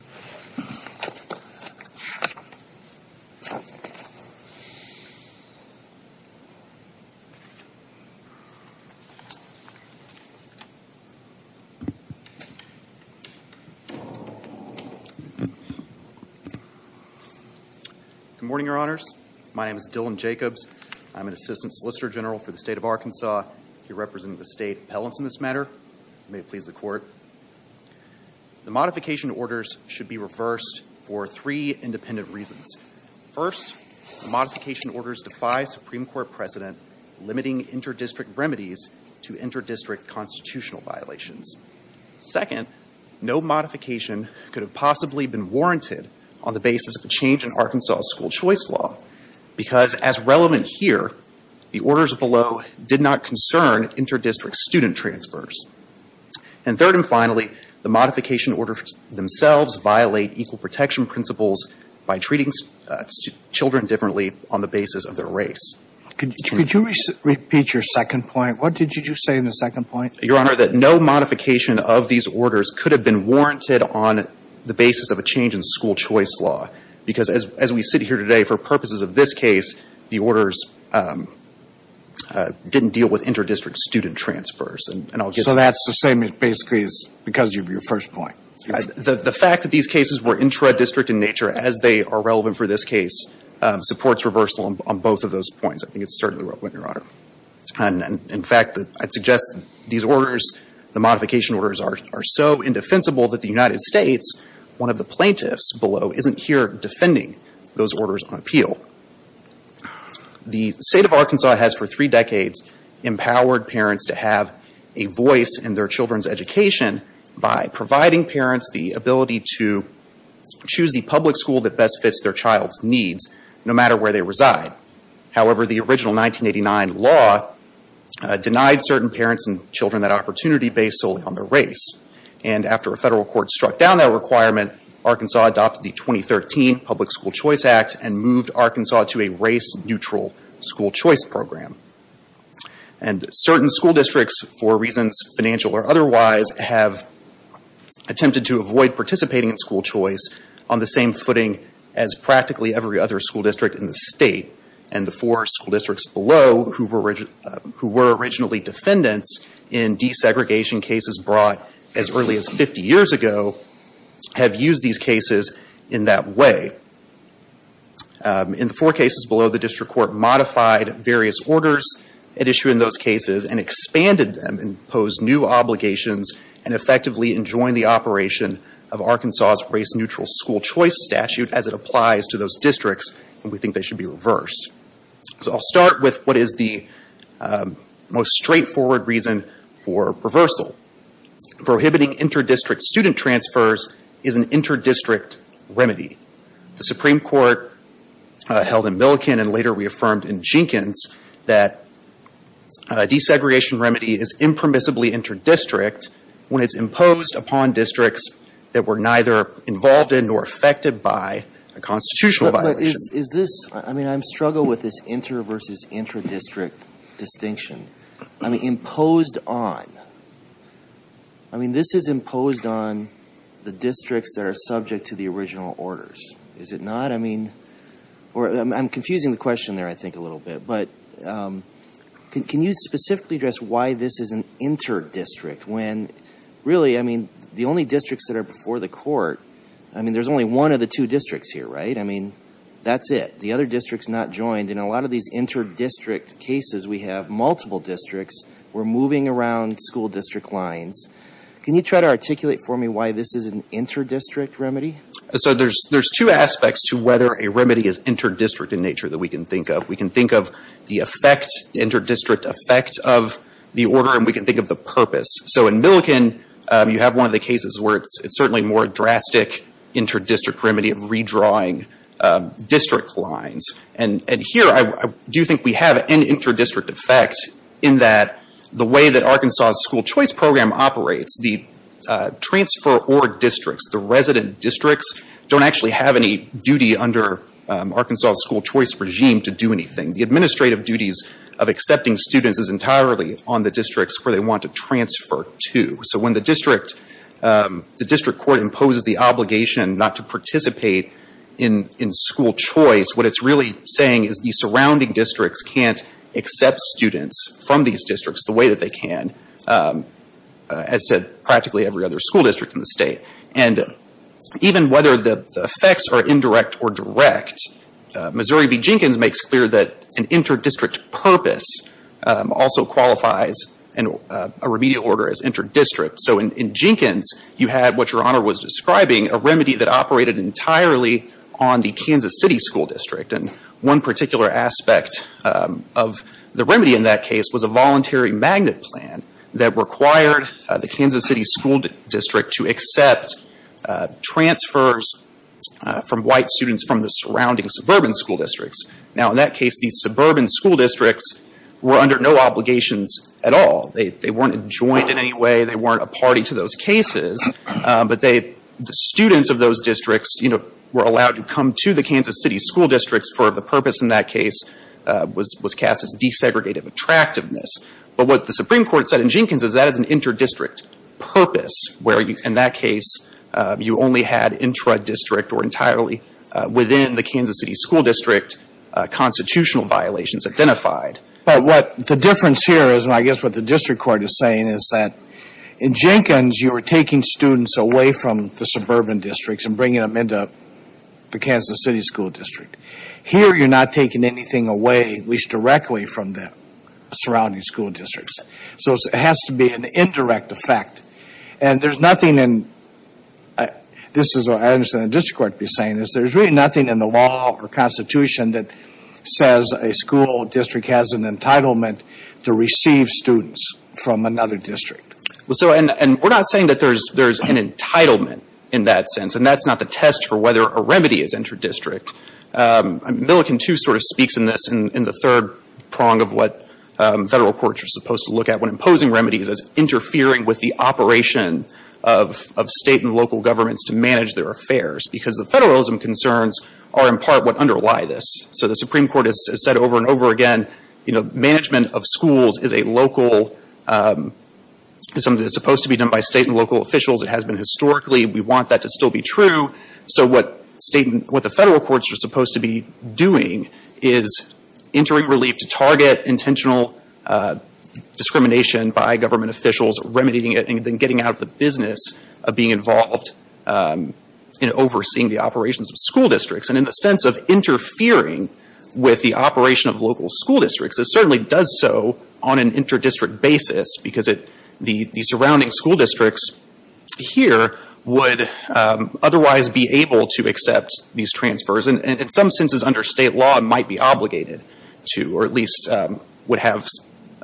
Good morning, Your Honors. My name is Dylan Jacobs. I'm an Assistant Solicitor General for the State of Arkansas. I represent the State Appellants in this matter. May it please the Court. The modification orders should be reversed for three independent reasons. First, the modification orders defy Supreme Court precedent, limiting inter-district remedies to inter-district constitutional violations. Second, no modification could have possibly been warranted on the basis of a change in Arkansas school choice law, because as relevant here, the orders below did not concern inter-district student transfers. And third and finally, the modification orders themselves violate equal protection principles by treating children differently on the basis of their race. Could you repeat your second point? What did you say in the second point? Your Honor, that no modification of these orders could have been warranted on the basis of a change in school choice law, because as we sit here today, for purposes of this case, the orders didn't deal with inter-district student transfers. So that's the same, basically, because of your first point? The fact that these cases were intra-district in nature, as they are relevant for this case, supports reversal on both of those points. I think it's certainly right, Your Honor. And in fact, I'd suggest these orders, the modification orders, are so indefensible that the United States, one of the plaintiffs below, isn't here defending those orders on appeal. The State of Arkansas has, for three decades, empowered parents to have a voice in their children's education by providing parents the ability to choose the public school that best fits their child's needs, no matter where they reside. However, the original 1989 law denied certain parents and children that opportunity based solely on their race. And after a federal court struck down that requirement, Arkansas adopted the 2013 Public School Choice Act and moved Arkansas to a race-neutral school choice program. And certain school districts, for reasons financial or otherwise, have attempted to avoid participating in school choice on the same footing as practically every other school district in the state. And the four school districts below, who were originally defendants in desegregation cases brought as early as 50 years ago, have used these cases in that way. In the four cases below, the district court modified various orders at issue in those cases and expanded them and imposed new obligations and effectively enjoined the operation of Arkansas's race-neutral school choice statute as it applies to those districts. And we think they should be reversed. So I'll start with what is the most straightforward reason for reversal. Prohibiting inter-district student transfers is an inter-district remedy. The Supreme Court held in Milliken and later reaffirmed in Jenkins that a desegregation remedy is impermissibly inter-district when it's imposed upon districts that were neither involved in nor affected by a constitutional violation. But is this, I mean I struggle with this inter-versus-intra-district distinction. I mean imposed on. I mean this is imposed on the districts that are subject to the original orders. Is it not? I mean, or I'm confusing the question there I think a little bit. But can you specifically address why this is an inter-district when really, I mean, the only districts that are before the court, I mean, there's only one of the two districts here, right? I mean, that's it. The other district's not joined. In a lot of these inter-district cases we have multiple districts. We're moving around school district lines. Can you try to articulate for me why this is an inter-district remedy? So there's two aspects to whether a remedy is inter-district in nature that we can think of. We can think of the effect, the inter-district effect of the order, and we can think of the certainly more drastic inter-district remedy of redrawing district lines. And here I do think we have an inter-district effect in that the way that Arkansas' school choice program operates, the transfer or districts, the resident districts don't actually have any duty under Arkansas' school choice regime to do anything. The administrative duties of accepting students is entirely on the districts where they want to transfer to. So when the district court imposes the obligation not to participate in school choice, what it's really saying is the surrounding districts can't accept students from these districts the way that they can, as did practically every other school district in the state. And even whether the effects are indirect or direct, Missouri v. Jenkins makes clear that an inter-district purpose also qualifies a remedial order as inter-district. So in fact, Your Honor was describing a remedy that operated entirely on the Kansas City School District. And one particular aspect of the remedy in that case was a voluntary magnet plan that required the Kansas City School District to accept transfers from white students from the surrounding suburban school districts. Now in that case, these suburban school districts were under no obligations at all. They weren't adjoined in any way. They weren't a party to those cases. But they, the students of those districts, you know, were allowed to come to the Kansas City School Districts for the purpose in that case was cast as desegregative attractiveness. But what the Supreme Court said in Jenkins is that is an inter-district purpose, where in that case, you only had intra-district or entirely within the Kansas City School District constitutional violations identified. But what the difference here is, and I guess what the district court is saying, is that in Jenkins, you were taking students away from the suburban districts and bringing them into the Kansas City School District. Here, you're not taking anything away, at least directly from the surrounding school districts. So it has to be an indirect effect. And there's nothing in, this is what I understand the district court to be saying, is there's really nothing in the law or Constitution that says a school district has an entitlement to receive students from another district. Well, so, and we're not saying that there's an entitlement in that sense. And that's not the test for whether a remedy is inter-district. Milliken, too, sort of speaks in this in the third prong of what federal courts are supposed to look at when imposing remedies as interfering with the operation of state and local governments to manage their affairs. Because the federalism concerns are, in part, what underlie this. So the Supreme Court has said over and over again, you know, management of schools is a local, is something that's supposed to be done by state and local officials. It has been historically. We want that to still be true. So what state, what the federal courts are supposed to be doing is entering relief to target intentional discrimination by government officials, remedying it, and then getting out of the business of being involved in overseeing the operations of school districts. And in the sense of interfering with the operation of local school districts, it certainly does so on an inter-district basis, because it, the surrounding school districts here would otherwise be able to accept these transfers, and in some senses under state law might be obligated to, or at least would have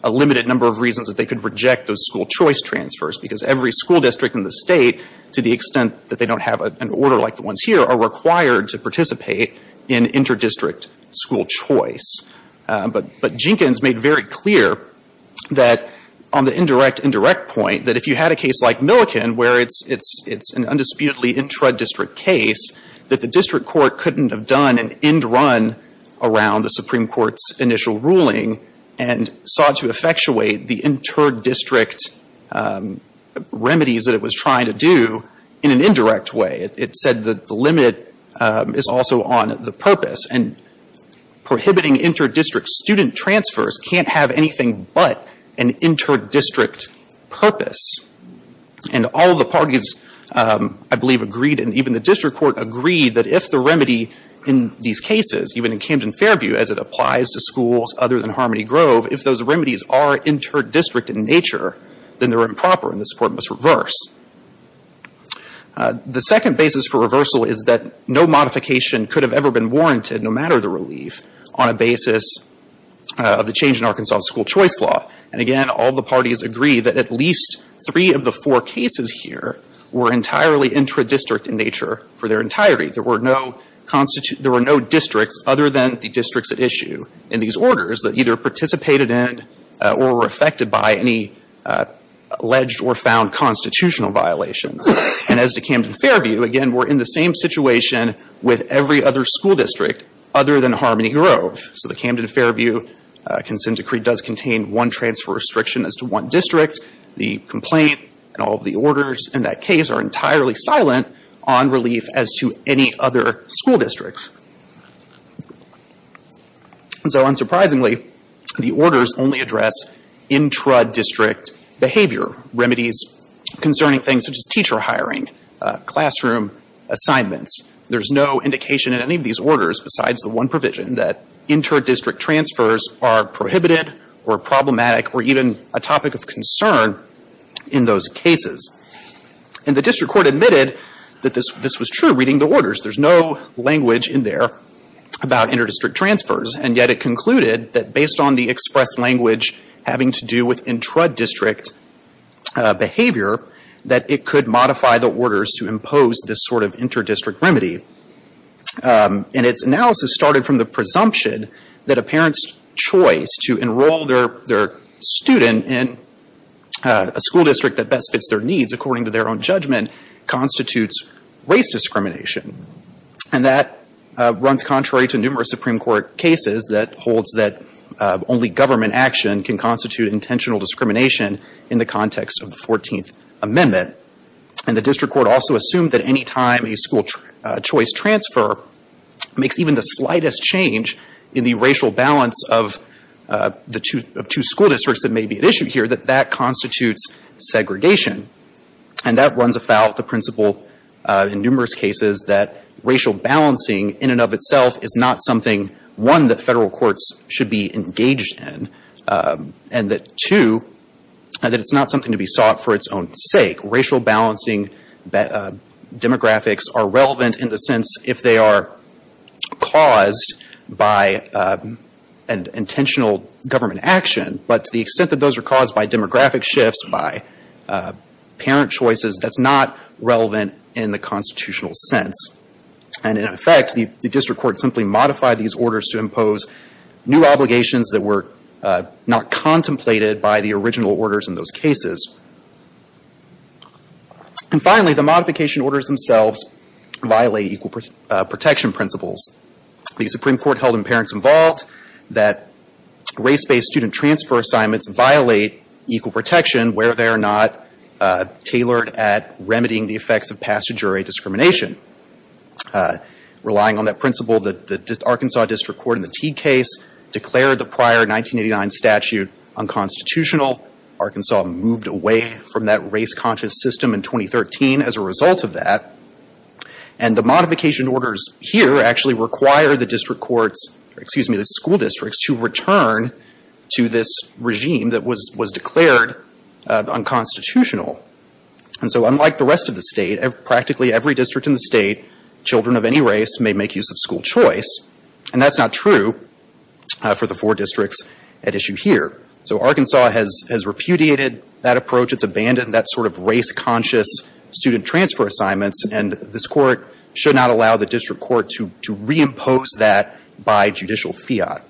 a limited number of reasons that they could reject those school choice transfers. Because every school district in the state, to the extent that they don't have an order like the ones here, are required to participate in inter-district school choice. But Jenkins made very clear that on the indirect-indirect point, that if you had a case like Milliken, where it's an undisputedly intra-district case, that the district court couldn't have done an end run around the Supreme Court's initial ruling and sought to effectuate the inter-district remedies that it was trying to do in an indirect way. It said that the limit is also on the purpose, and prohibiting inter-district student transfers can't have anything but an inter-district purpose. And all the parties, I believe, agreed, and even the district court agreed, that if the remedy in these cases, even in Camden-Fairview, as it applies to schools other than Harmony District in nature, then they're improper and this court must reverse. The second basis for reversal is that no modification could have ever been warranted, no matter the relief, on a basis of the change in Arkansas school choice law. And again, all the parties agree that at least three of the four cases here were entirely intra-district in nature for their entirety. There were no districts other than the districts at issue in these by any alleged or found constitutional violations. And as to Camden-Fairview, again, we're in the same situation with every other school district other than Harmony Grove. So the Camden-Fairview consent decree does contain one transfer restriction as to one district. The complaint and all of the orders in that case are entirely silent on relief as to any other school districts. And so unsurprisingly, the orders only address intra-district behavior, remedies concerning things such as teacher hiring, classroom assignments. There's no indication in any of these orders besides the one provision that inter-district transfers are prohibited or problematic or even a topic of concern in those cases. And the district court admitted that this was in there about inter-district transfers, and yet it concluded that based on the express language having to do with intra-district behavior, that it could modify the orders to impose this sort of inter-district remedy. And its analysis started from the presumption that a parent's choice to enroll their student in a school district that best fits their own judgment constitutes race discrimination. And that runs contrary to numerous Supreme Court cases that holds that only government action can constitute intentional discrimination in the context of the 14th Amendment. And the district court also assumed that any time a school choice transfer makes even the slightest change in the racial balance of the two school districts that may be at issue here, that that constitutes segregation. And that runs afoul of the principle in numerous cases that racial balancing in and of itself is not something, one, that federal courts should be engaged in, and that, two, that it's not something to be sought for its own sake. Racial balancing demographics are relevant in the sense if they are caused by an intentional government action, but to the extent that those are caused by demographic shifts, by parent choices, that's not relevant in the constitutional sense. And in effect, the district court simply modified these orders to impose new obligations that were not contemplated by the original orders in those cases. And finally, the modification orders themselves violate equal protection principles. The Supreme Court held in Parents Involved that race-based student transfer assignments violate equal protection where they are not tailored at remedying the effects of past jury discrimination. Relying on that principle, the Arkansas district court in the Teague case declared the prior 1989 statute unconstitutional. Arkansas moved away from that race-conscious system in 2013 as a result of that. And the modification orders here actually require the school districts to return to this regime that was declared unconstitutional. And so, unlike the rest of the state, practically every district in the state, children of any race may make use of school choice. And that's not true for the four districts at issue here. So Arkansas has repudiated that approach. It's abandoned that sort of race-conscious student transfer assignments. And this court should not allow the district court to reimpose that by judicial fiat.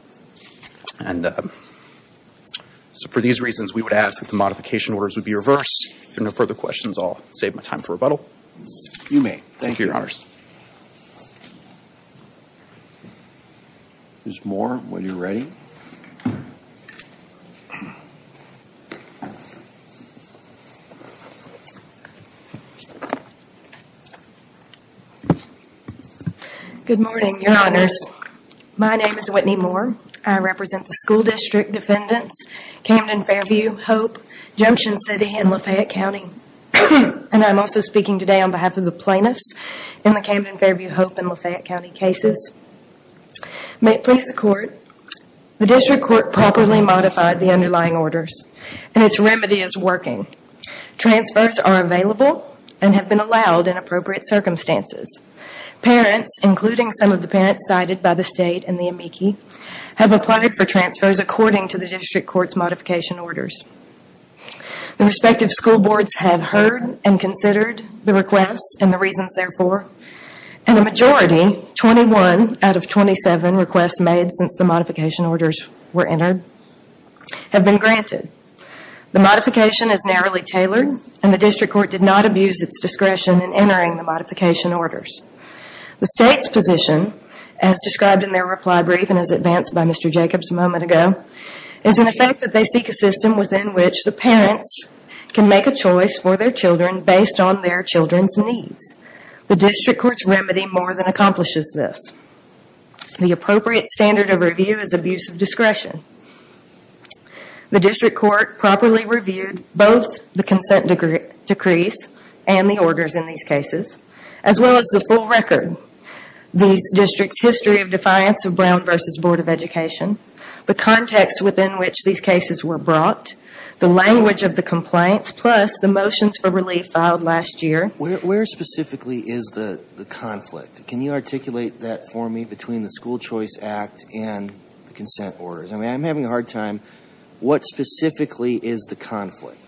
And so, for these reasons, we would ask that the modification orders would be reversed. If there are no further questions, I'll save my time for rebuttal. You may. Thank you, Your Honors. Ms. Moore, when you're ready. Good morning, Your Honors. My name is Whitney Moore. I represent the school district defendants, Camden-Fairview, Hope, Junction City, and Lafayette County. And I'm also speaking today on behalf of the plaintiffs in the Camden-Fairview, Hope, and Lafayette County cases. May it please the Court, the district court properly modified the underlying orders and its remedy is working. Transfers are available and have been allowed in appropriate circumstances. Parents, including some of the parents cited by the state and the amici, have applied for transfers according to the district court's modification orders. The respective school boards have heard and considered the requests and the reasons therefore. And a majority, 21 out of 27 requests made since the modification orders were entered, have been granted. The modification is narrowly tailored and the district court did not abuse its discretion in entering the modification orders. The state's position, as described in their reply brief and as advanced by Mr. Brown, is in effect that they seek a system within which the parents can make a choice for their children based on their children's needs. The district court's remedy more than accomplishes this. The appropriate standard of review is abuse of discretion. The district court properly reviewed both the consent decrees and the orders in these cases, as well as the full record. These districts' history of defiance of Brown versus Board of Education, the context within which these cases were brought, the language of the complaints, plus the motions for relief filed last year. Where specifically is the conflict? Can you articulate that for me between the School Choice Act and the consent orders? I'm having a hard time. What specifically is the conflict?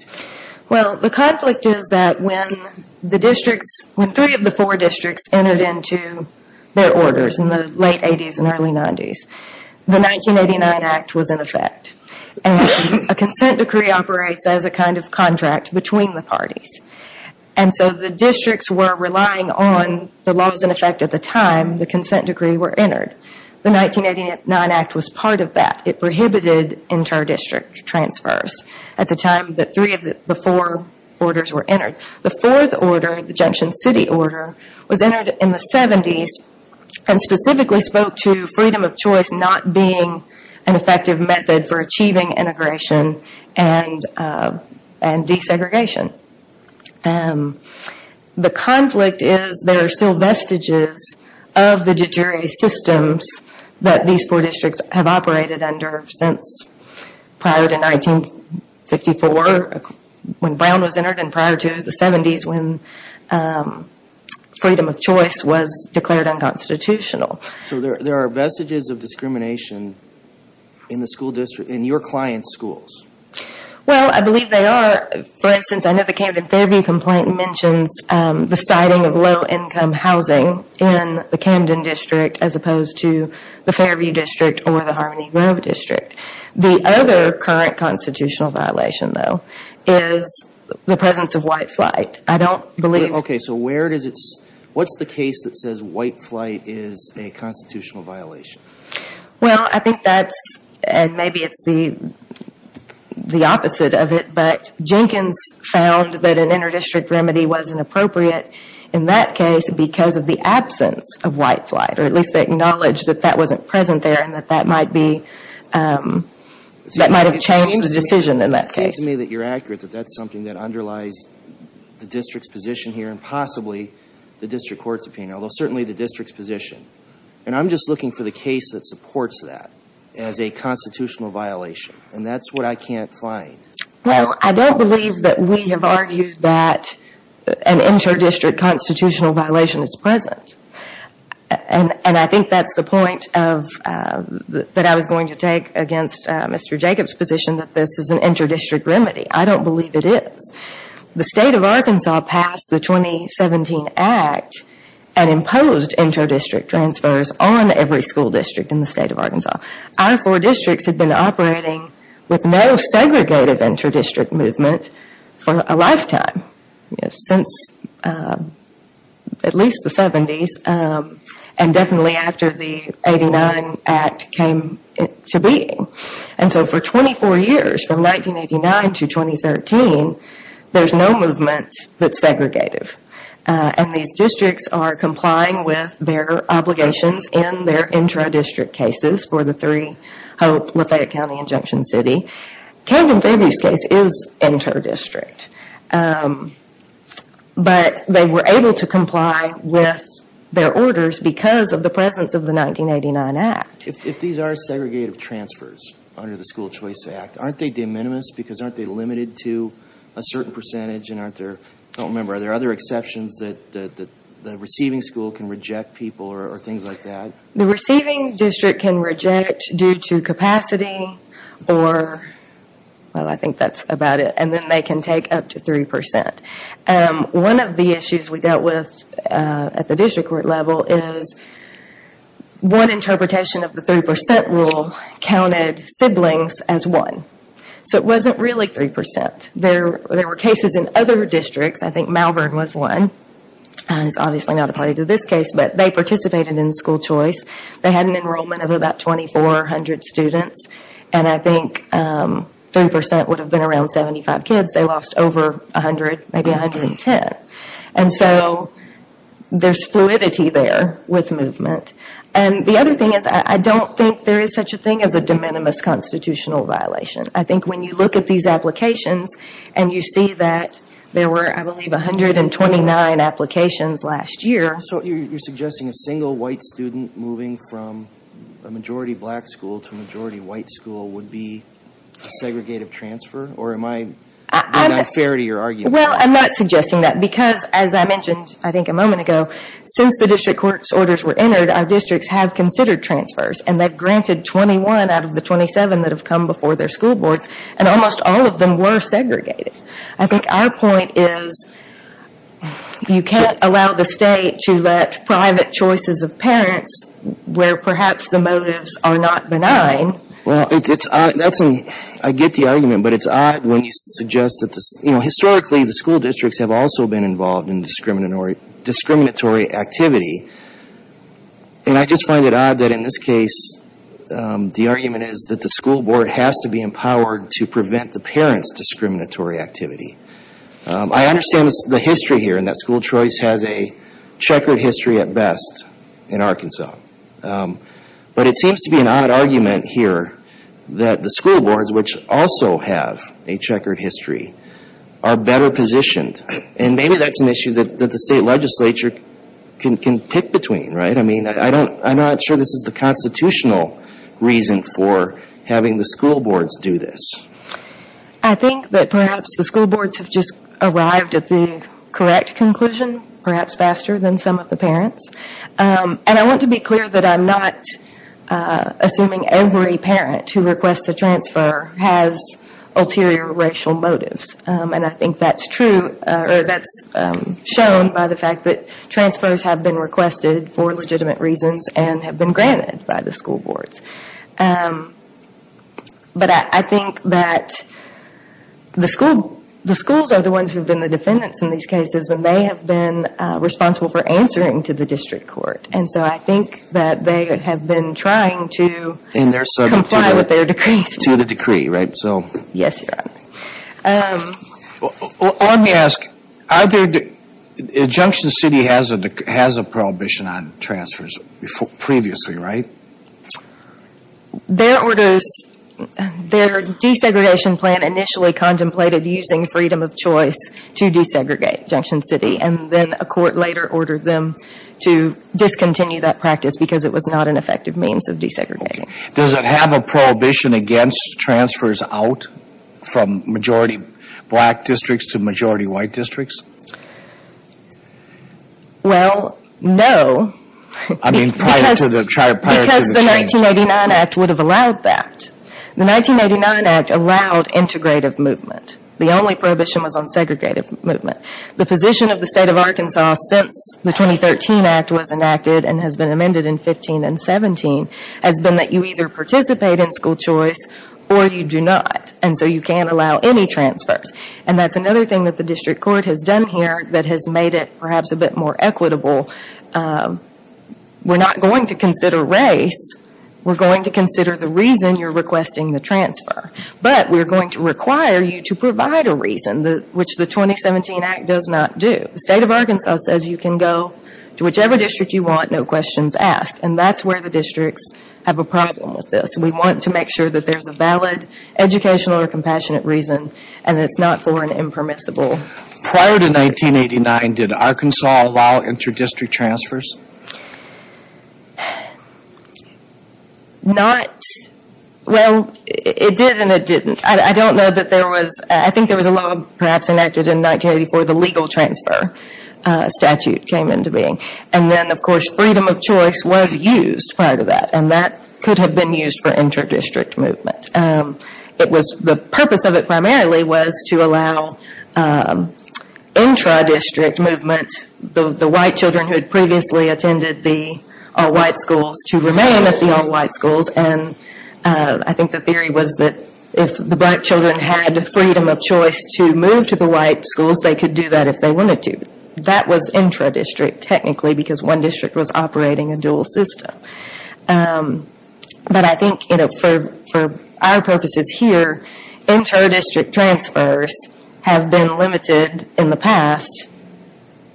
The conflict is that when three of the four districts entered into their orders in the late 80s and early 90s, the 1989 Act was in effect. A consent decree operates as a kind of contract between the parties. The districts were relying on the laws in effect at the time the consent decree were entered. The 1989 Act was part of that. It prohibited inter-district transfers at the time that three of the four orders were entered. The fourth order, the Junction City Order, was entered in the 70s and specifically spoke to freedom of choice not being an effective method for achieving integration and desegregation. The conflict is there are still vestiges of the de jure systems that these four districts have operated under since prior to 1954 when Brown was entered and prior to the 70s when freedom of choice was declared unconstitutional. There are vestiges of discrimination in the school district, in your client's schools? Well, I believe they are. For instance, I know the Camden Fairview complaint mentions the siting of low income housing in the Camden district as opposed to the Fairview district or the Harmony Grove district. The other current constitutional violation, though, is the presence of white flight. I don't believe... Okay, so where does it... What's the case that says white flight is a constitutional violation? Well, I think that's, and maybe it's the opposite of it, but Jenkins found that an inter-district remedy wasn't appropriate in that case because of the absence of white flight, or at least acknowledged that that wasn't present there and that that might have changed the decision in that case. It seems to me that you're accurate that that's something that underlies the district's position here and possibly the district court's opinion, although certainly the district's position. And I'm just looking for the case that supports that as a constitutional violation, and that's what I can't find. Well, I don't believe that we have argued that an inter-district constitutional violation is present. And I think that's the point that I was going to take against Mr. Jacobs' position that this is an inter-district remedy. I don't believe it is. The state of Arkansas passed the 2017 Act and imposed inter-district transfers on every school district in the state of Arkansas. Our four districts had been operating with no segregated inter-district movement for a lifetime, since at least the beginning of the 80s, the 70s, and definitely after the 89 Act came to being. And so for 24 years, from 1989 to 2013, there's no movement that's segregated. And these districts are complying with their obligations in their inter-district cases for the three, Hope, Lafayette County, and Junction City. Calvin Faber's case is inter-district, but they were able to comply with the inter-district with their orders because of the presence of the 1989 Act. If these are segregated transfers under the School Choice Act, aren't they de minimis because aren't they limited to a certain percentage? And aren't there, I don't remember, are there other exceptions that the receiving school can reject people or things like that? The receiving district can reject due to capacity or, well, I think that's about it. And then they can take up to three percent. One of the issues we dealt with at the district court level is one interpretation of the three percent rule counted siblings as one. So it wasn't really three percent. There were cases in other districts. I think Malvern was one. It's obviously not applied to this case, but they participated in the school choice. They had an enrollment of about 2,400 students. And I think three percent would have been around 75 kids. They lost over 100, maybe 110. And so there's fluidity there with movement. And the other thing is I don't think there is such a thing as a de minimis constitutional violation. I think when you look at these applications and you see that there were, I believe, 129 applications last year. So you're suggesting a single white student moving from a majority black school to a majority white school would be a segregative transfer? Or am I being unfair to your argument? Well, I'm not suggesting that because, as I mentioned, I think, a moment ago, since the district court's orders were entered, our districts have considered transfers. And they've granted 21 out of the 27 that have come before their school boards. And almost all of them were segregated. I think our point is you can't allow the state to let private choices of parents where perhaps the motives are not benign. Well, I get the argument. But it's odd when you suggest that historically the school districts have also been involved in discriminatory activity. And I just find it odd that in this case the argument is that the school board has to be empowered to prevent the parents' discriminatory activity. I understand the history here and that school choice has a checkered history at best in But it seems to be an odd argument here that the school boards, which also have a checkered history, are better positioned. And maybe that's an issue that the state legislature can pick between, right? I mean, I'm not sure this is the constitutional reason for having the school boards do this. I think that perhaps the school boards have just arrived at the correct conclusion, perhaps faster than some of the parents. And I want to be clear that I'm not assuming every parent who requests a transfer has ulterior racial motives. And I think that's true, or that's shown by the fact that transfers have been requested for legitimate reasons and have been granted by the school boards. But I think that the schools are the ones who have been the defendants in these cases and they have been responsible for answering to the district court. And so I think that they have been trying to comply with their decrees. To the decree, right? Yes, Your Honor. Let me ask, Junction City has a prohibition on transfers previously, right? Their orders, their desegregation plan initially contemplated using freedom of choice to desegregate Junction City. And then a court later ordered them to discontinue that practice because it was not an effective means of desegregating. Does it have a prohibition against transfers out from majority black districts to majority white districts? Well, no, because the 1989 Act would have allowed that. The 1989 Act allowed integrative movement. The only prohibition was on segregative movement. The position of the State of Arkansas since the 2013 Act was enacted and has been amended in 2015 and 2017 has been that you either participate in school choice or you do not. And so you can't allow any transfers. And that's another thing that the district court has done here that has made it perhaps a bit more equitable. We're not going to consider race. We're going to consider the reason you're to provide a reason, which the 2017 Act does not do. The State of Arkansas says you can go to whichever district you want, no questions asked. And that's where the districts have a problem with this. We want to make sure that there's a valid educational or compassionate reason and it's not for an impermissible. Prior to 1989, did Arkansas allow inter-district transfers? Not, well it did and it didn't. I don't know that there was, I think there was a law perhaps enacted in 1984, the legal transfer statute came into being. And then of course freedom of choice was used prior to that and that could have been used for inter-district movement. It was, the purpose of it primarily was to allow intra-district movement, the white children who had previously attended the all-white schools to remain at the all-white schools. And I think the theory was that if the black children had the freedom of choice to move to the white schools, they could do that if they wanted to. That was intra-district technically because one district was operating a dual system. But I think for our purposes here, inter-district transfers have been limited in the past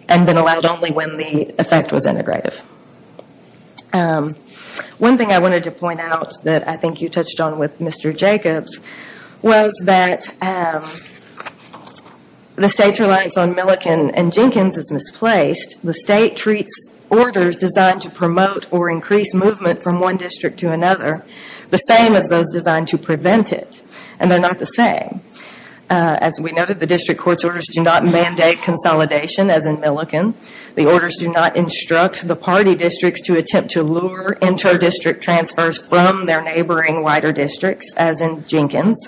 and been allowed only when the effect was integrative. One thing I wanted to point out that I think you touched on with Mr. Jacobs was that the state's reliance on Milliken and Jenkins is misplaced. The state treats orders designed to promote or increase movement from one district to another the same as those designed to prevent it. And they're not the same. As we noted, the district court's orders do not mandate consolidation as in Milliken. The orders do not instruct the party districts to attempt to lure inter-district transfers from their neighboring whiter districts as in Jenkins.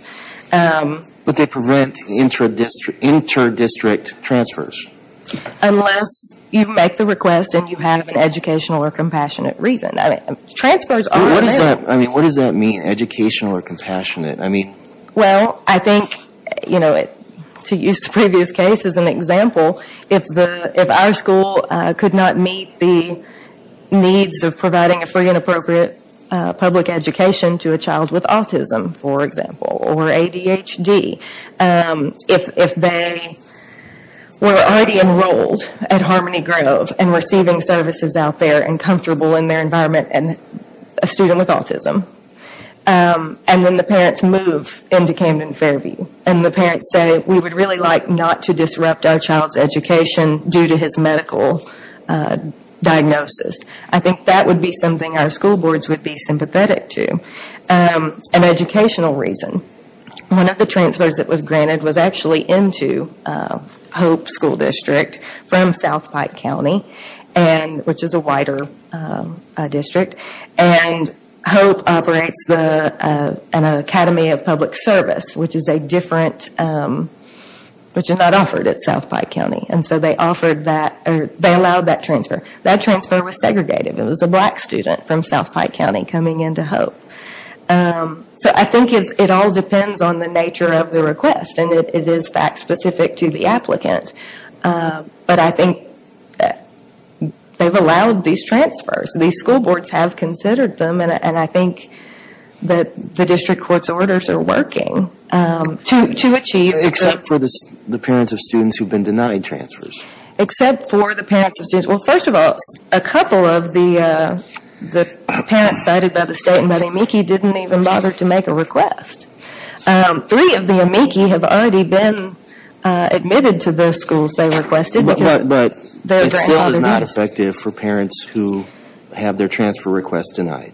But they prevent inter-district transfers. Unless you make the request and you have an educational or compassionate reason. I mean, what does that mean, educational or compassionate? I think to use the previous case as an example, if our school could not meet the needs of providing a free and appropriate public education to a child with autism, for example, or ADHD, if they were already enrolled at Harmony Grove and receiving services out there and comfortable in their environment and a student with autism. And then the parents move into Camden Fairview. And the parents say, we would really like not to disrupt our child's education due to his medical diagnosis. I think that would be something our school boards would be sympathetic to. An educational reason, one of the transfers that was granted was actually into Hope School District from South Pike County, which is a whiter district. And Hope operates an academy of public service, which is a different, which is not offered at South Pike County. And so they allowed that transfer. That transfer was segregated. It was a black student from South Pike County coming into Hope. So I think it all depends on the nature of the request. And it is fact specific to the district. But I think that they have allowed these transfers. These school boards have considered them. And I think that the district court's orders are working to achieve. Except for the parents of students who have been denied transfers. Except for the parents of students. Well, first of all, a couple of the parents cited by the state and by the AMICI didn't even bother to make a request. Three of the AMICI have already been admitted to the schools they requested. But it still is not effective for parents who have their transfer request denied.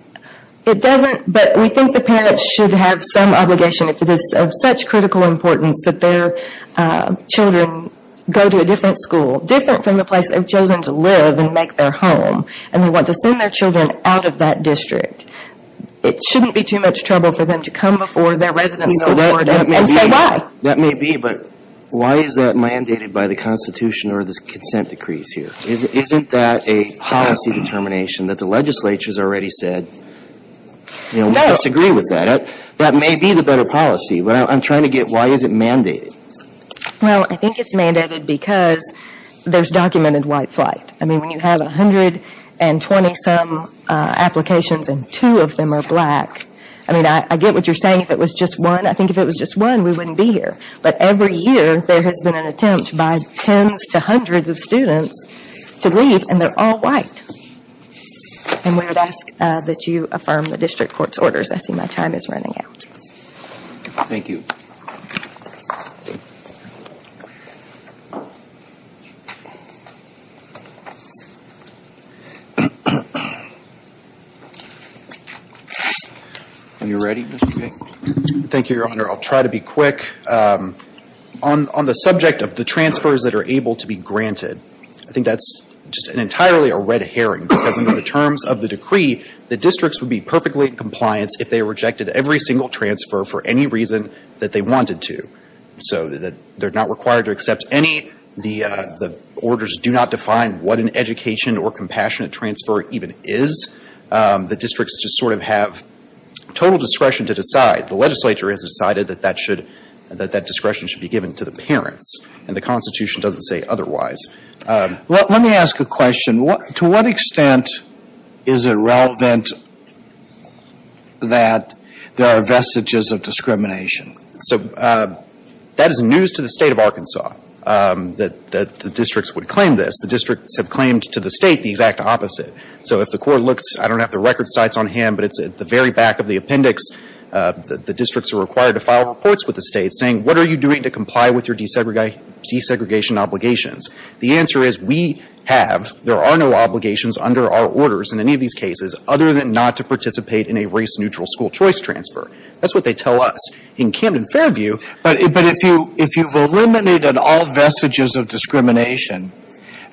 It doesn't, but we think the parents should have some obligation if it is of such critical importance that their children go to a different school, different from the place they've chosen to live and make their home. And they want to send their children out of that district. It shouldn't be too much trouble for them to come before their resident school board and say why. That may be, but why is that mandated by the Constitution or the consent decrees here? Isn't that a policy determination that the legislature has already said, you know, we disagree with that. That may be the better policy. But I'm trying to get why is it mandated? Well, I think it's mandated because there's documented white flight. I mean, when you have 120 some applications and two of them are black, I mean, I get what you're saying if it was just one. I think if it was just one, we wouldn't be here. But every year, there has been an attempt by tens to hundreds of students to leave and they're all white. And we would ask that you affirm the district court's orders. I see my time is running out. Thank you. Are you ready, Mr. King? Thank you, Your Honor. I'll try to be quick. On the subject of the transfers that are able to be granted, I think that's just entirely a red herring. Because under the terms of reason that they wanted to. So they're not required to accept any, the orders do not define what an education or compassionate transfer even is. The districts just sort of have total discretion to decide. The legislature has decided that that should, that that discretion should be given to the parents. And the Constitution doesn't say otherwise. Let me ask a question. To what extent is it relevant that there are vestiges of discrimination? So that is news to the state of Arkansas. That the districts would claim this. The districts have claimed to the state the exact opposite. So if the court looks, I don't have the record sites on hand, but it's at the very back of the appendix. The districts are required to file reports with the state saying, what are you doing to comply with your desegregation obligations? The answer is we have, there are no obligations under our orders in any of these cases other than not to participate in a race neutral school choice transfer. That's what they tell us. In Camden Fairview. But if you, if you've eliminated all vestiges of discrimination,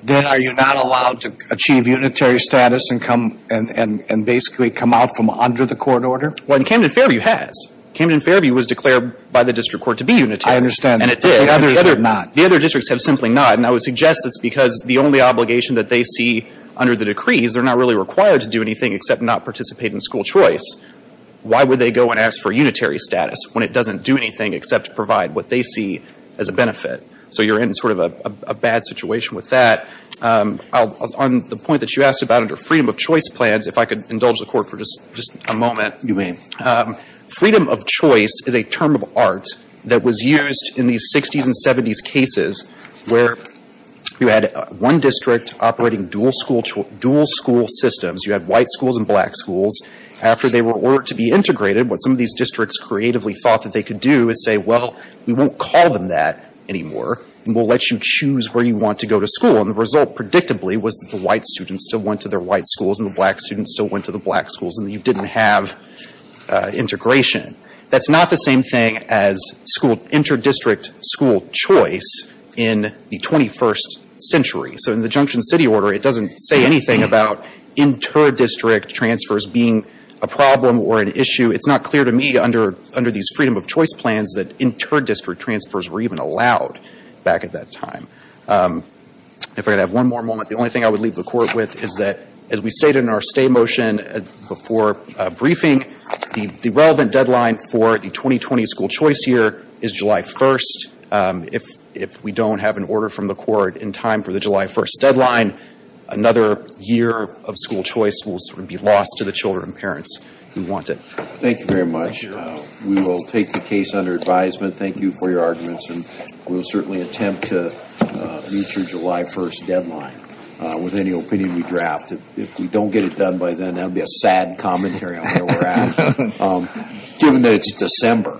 then are you not allowed to achieve unitary status and come, and basically come out from under the court order? Well in Camden Fairview has. Camden Fairview was declared by the district court to be unitary. I understand. And it did. The others are not. The other districts have simply not. And I would suggest it's because the only obligation that they see under the decrees, they're not really required to do anything except not participate in school choice. Why would they go and ask for unitary status when it doesn't do anything except provide what they see as a benefit? So you're in sort of a bad situation with that. On the point that you asked about under freedom of choice plans, if I could indulge the court for just a moment. You may. Freedom of choice is a term of art that was used in these 60s and 70s cases where you had one district operating dual school, dual school systems. You had white schools and black schools. After they were ordered to be integrated, what some of these districts creatively thought that they could do is say, well, we won't call them that anymore. And we'll let you choose where you want to go to school. And the result, predictably, was that the white students still went to their white schools and the black students still went to the black schools. And you didn't have integration. That's not the same thing as school, inter-district school choice in the 21st century. So in the Junction City Order, it doesn't say anything about inter-district transfers being a problem or an issue. It's not clear to me under these freedom of choice plans that inter-district transfers were even allowed back at that time. If I could have one more moment, the only thing I would leave the court with is that as we stated in our stay motion before briefing, the relevant deadline for the 2020 school choice year is July 1st. If we don't have an order from the court in time for the July 1st deadline, another year of school choice will sort of be lost to the children and parents who want it. Thank you very much. We will take the case under advisement. Thank you for your arguments. And we will certainly attempt to meet your July 1st deadline with any opinion we draft. If we don't get it done by then, that would be a sad commentary on where we're at, given that it's December.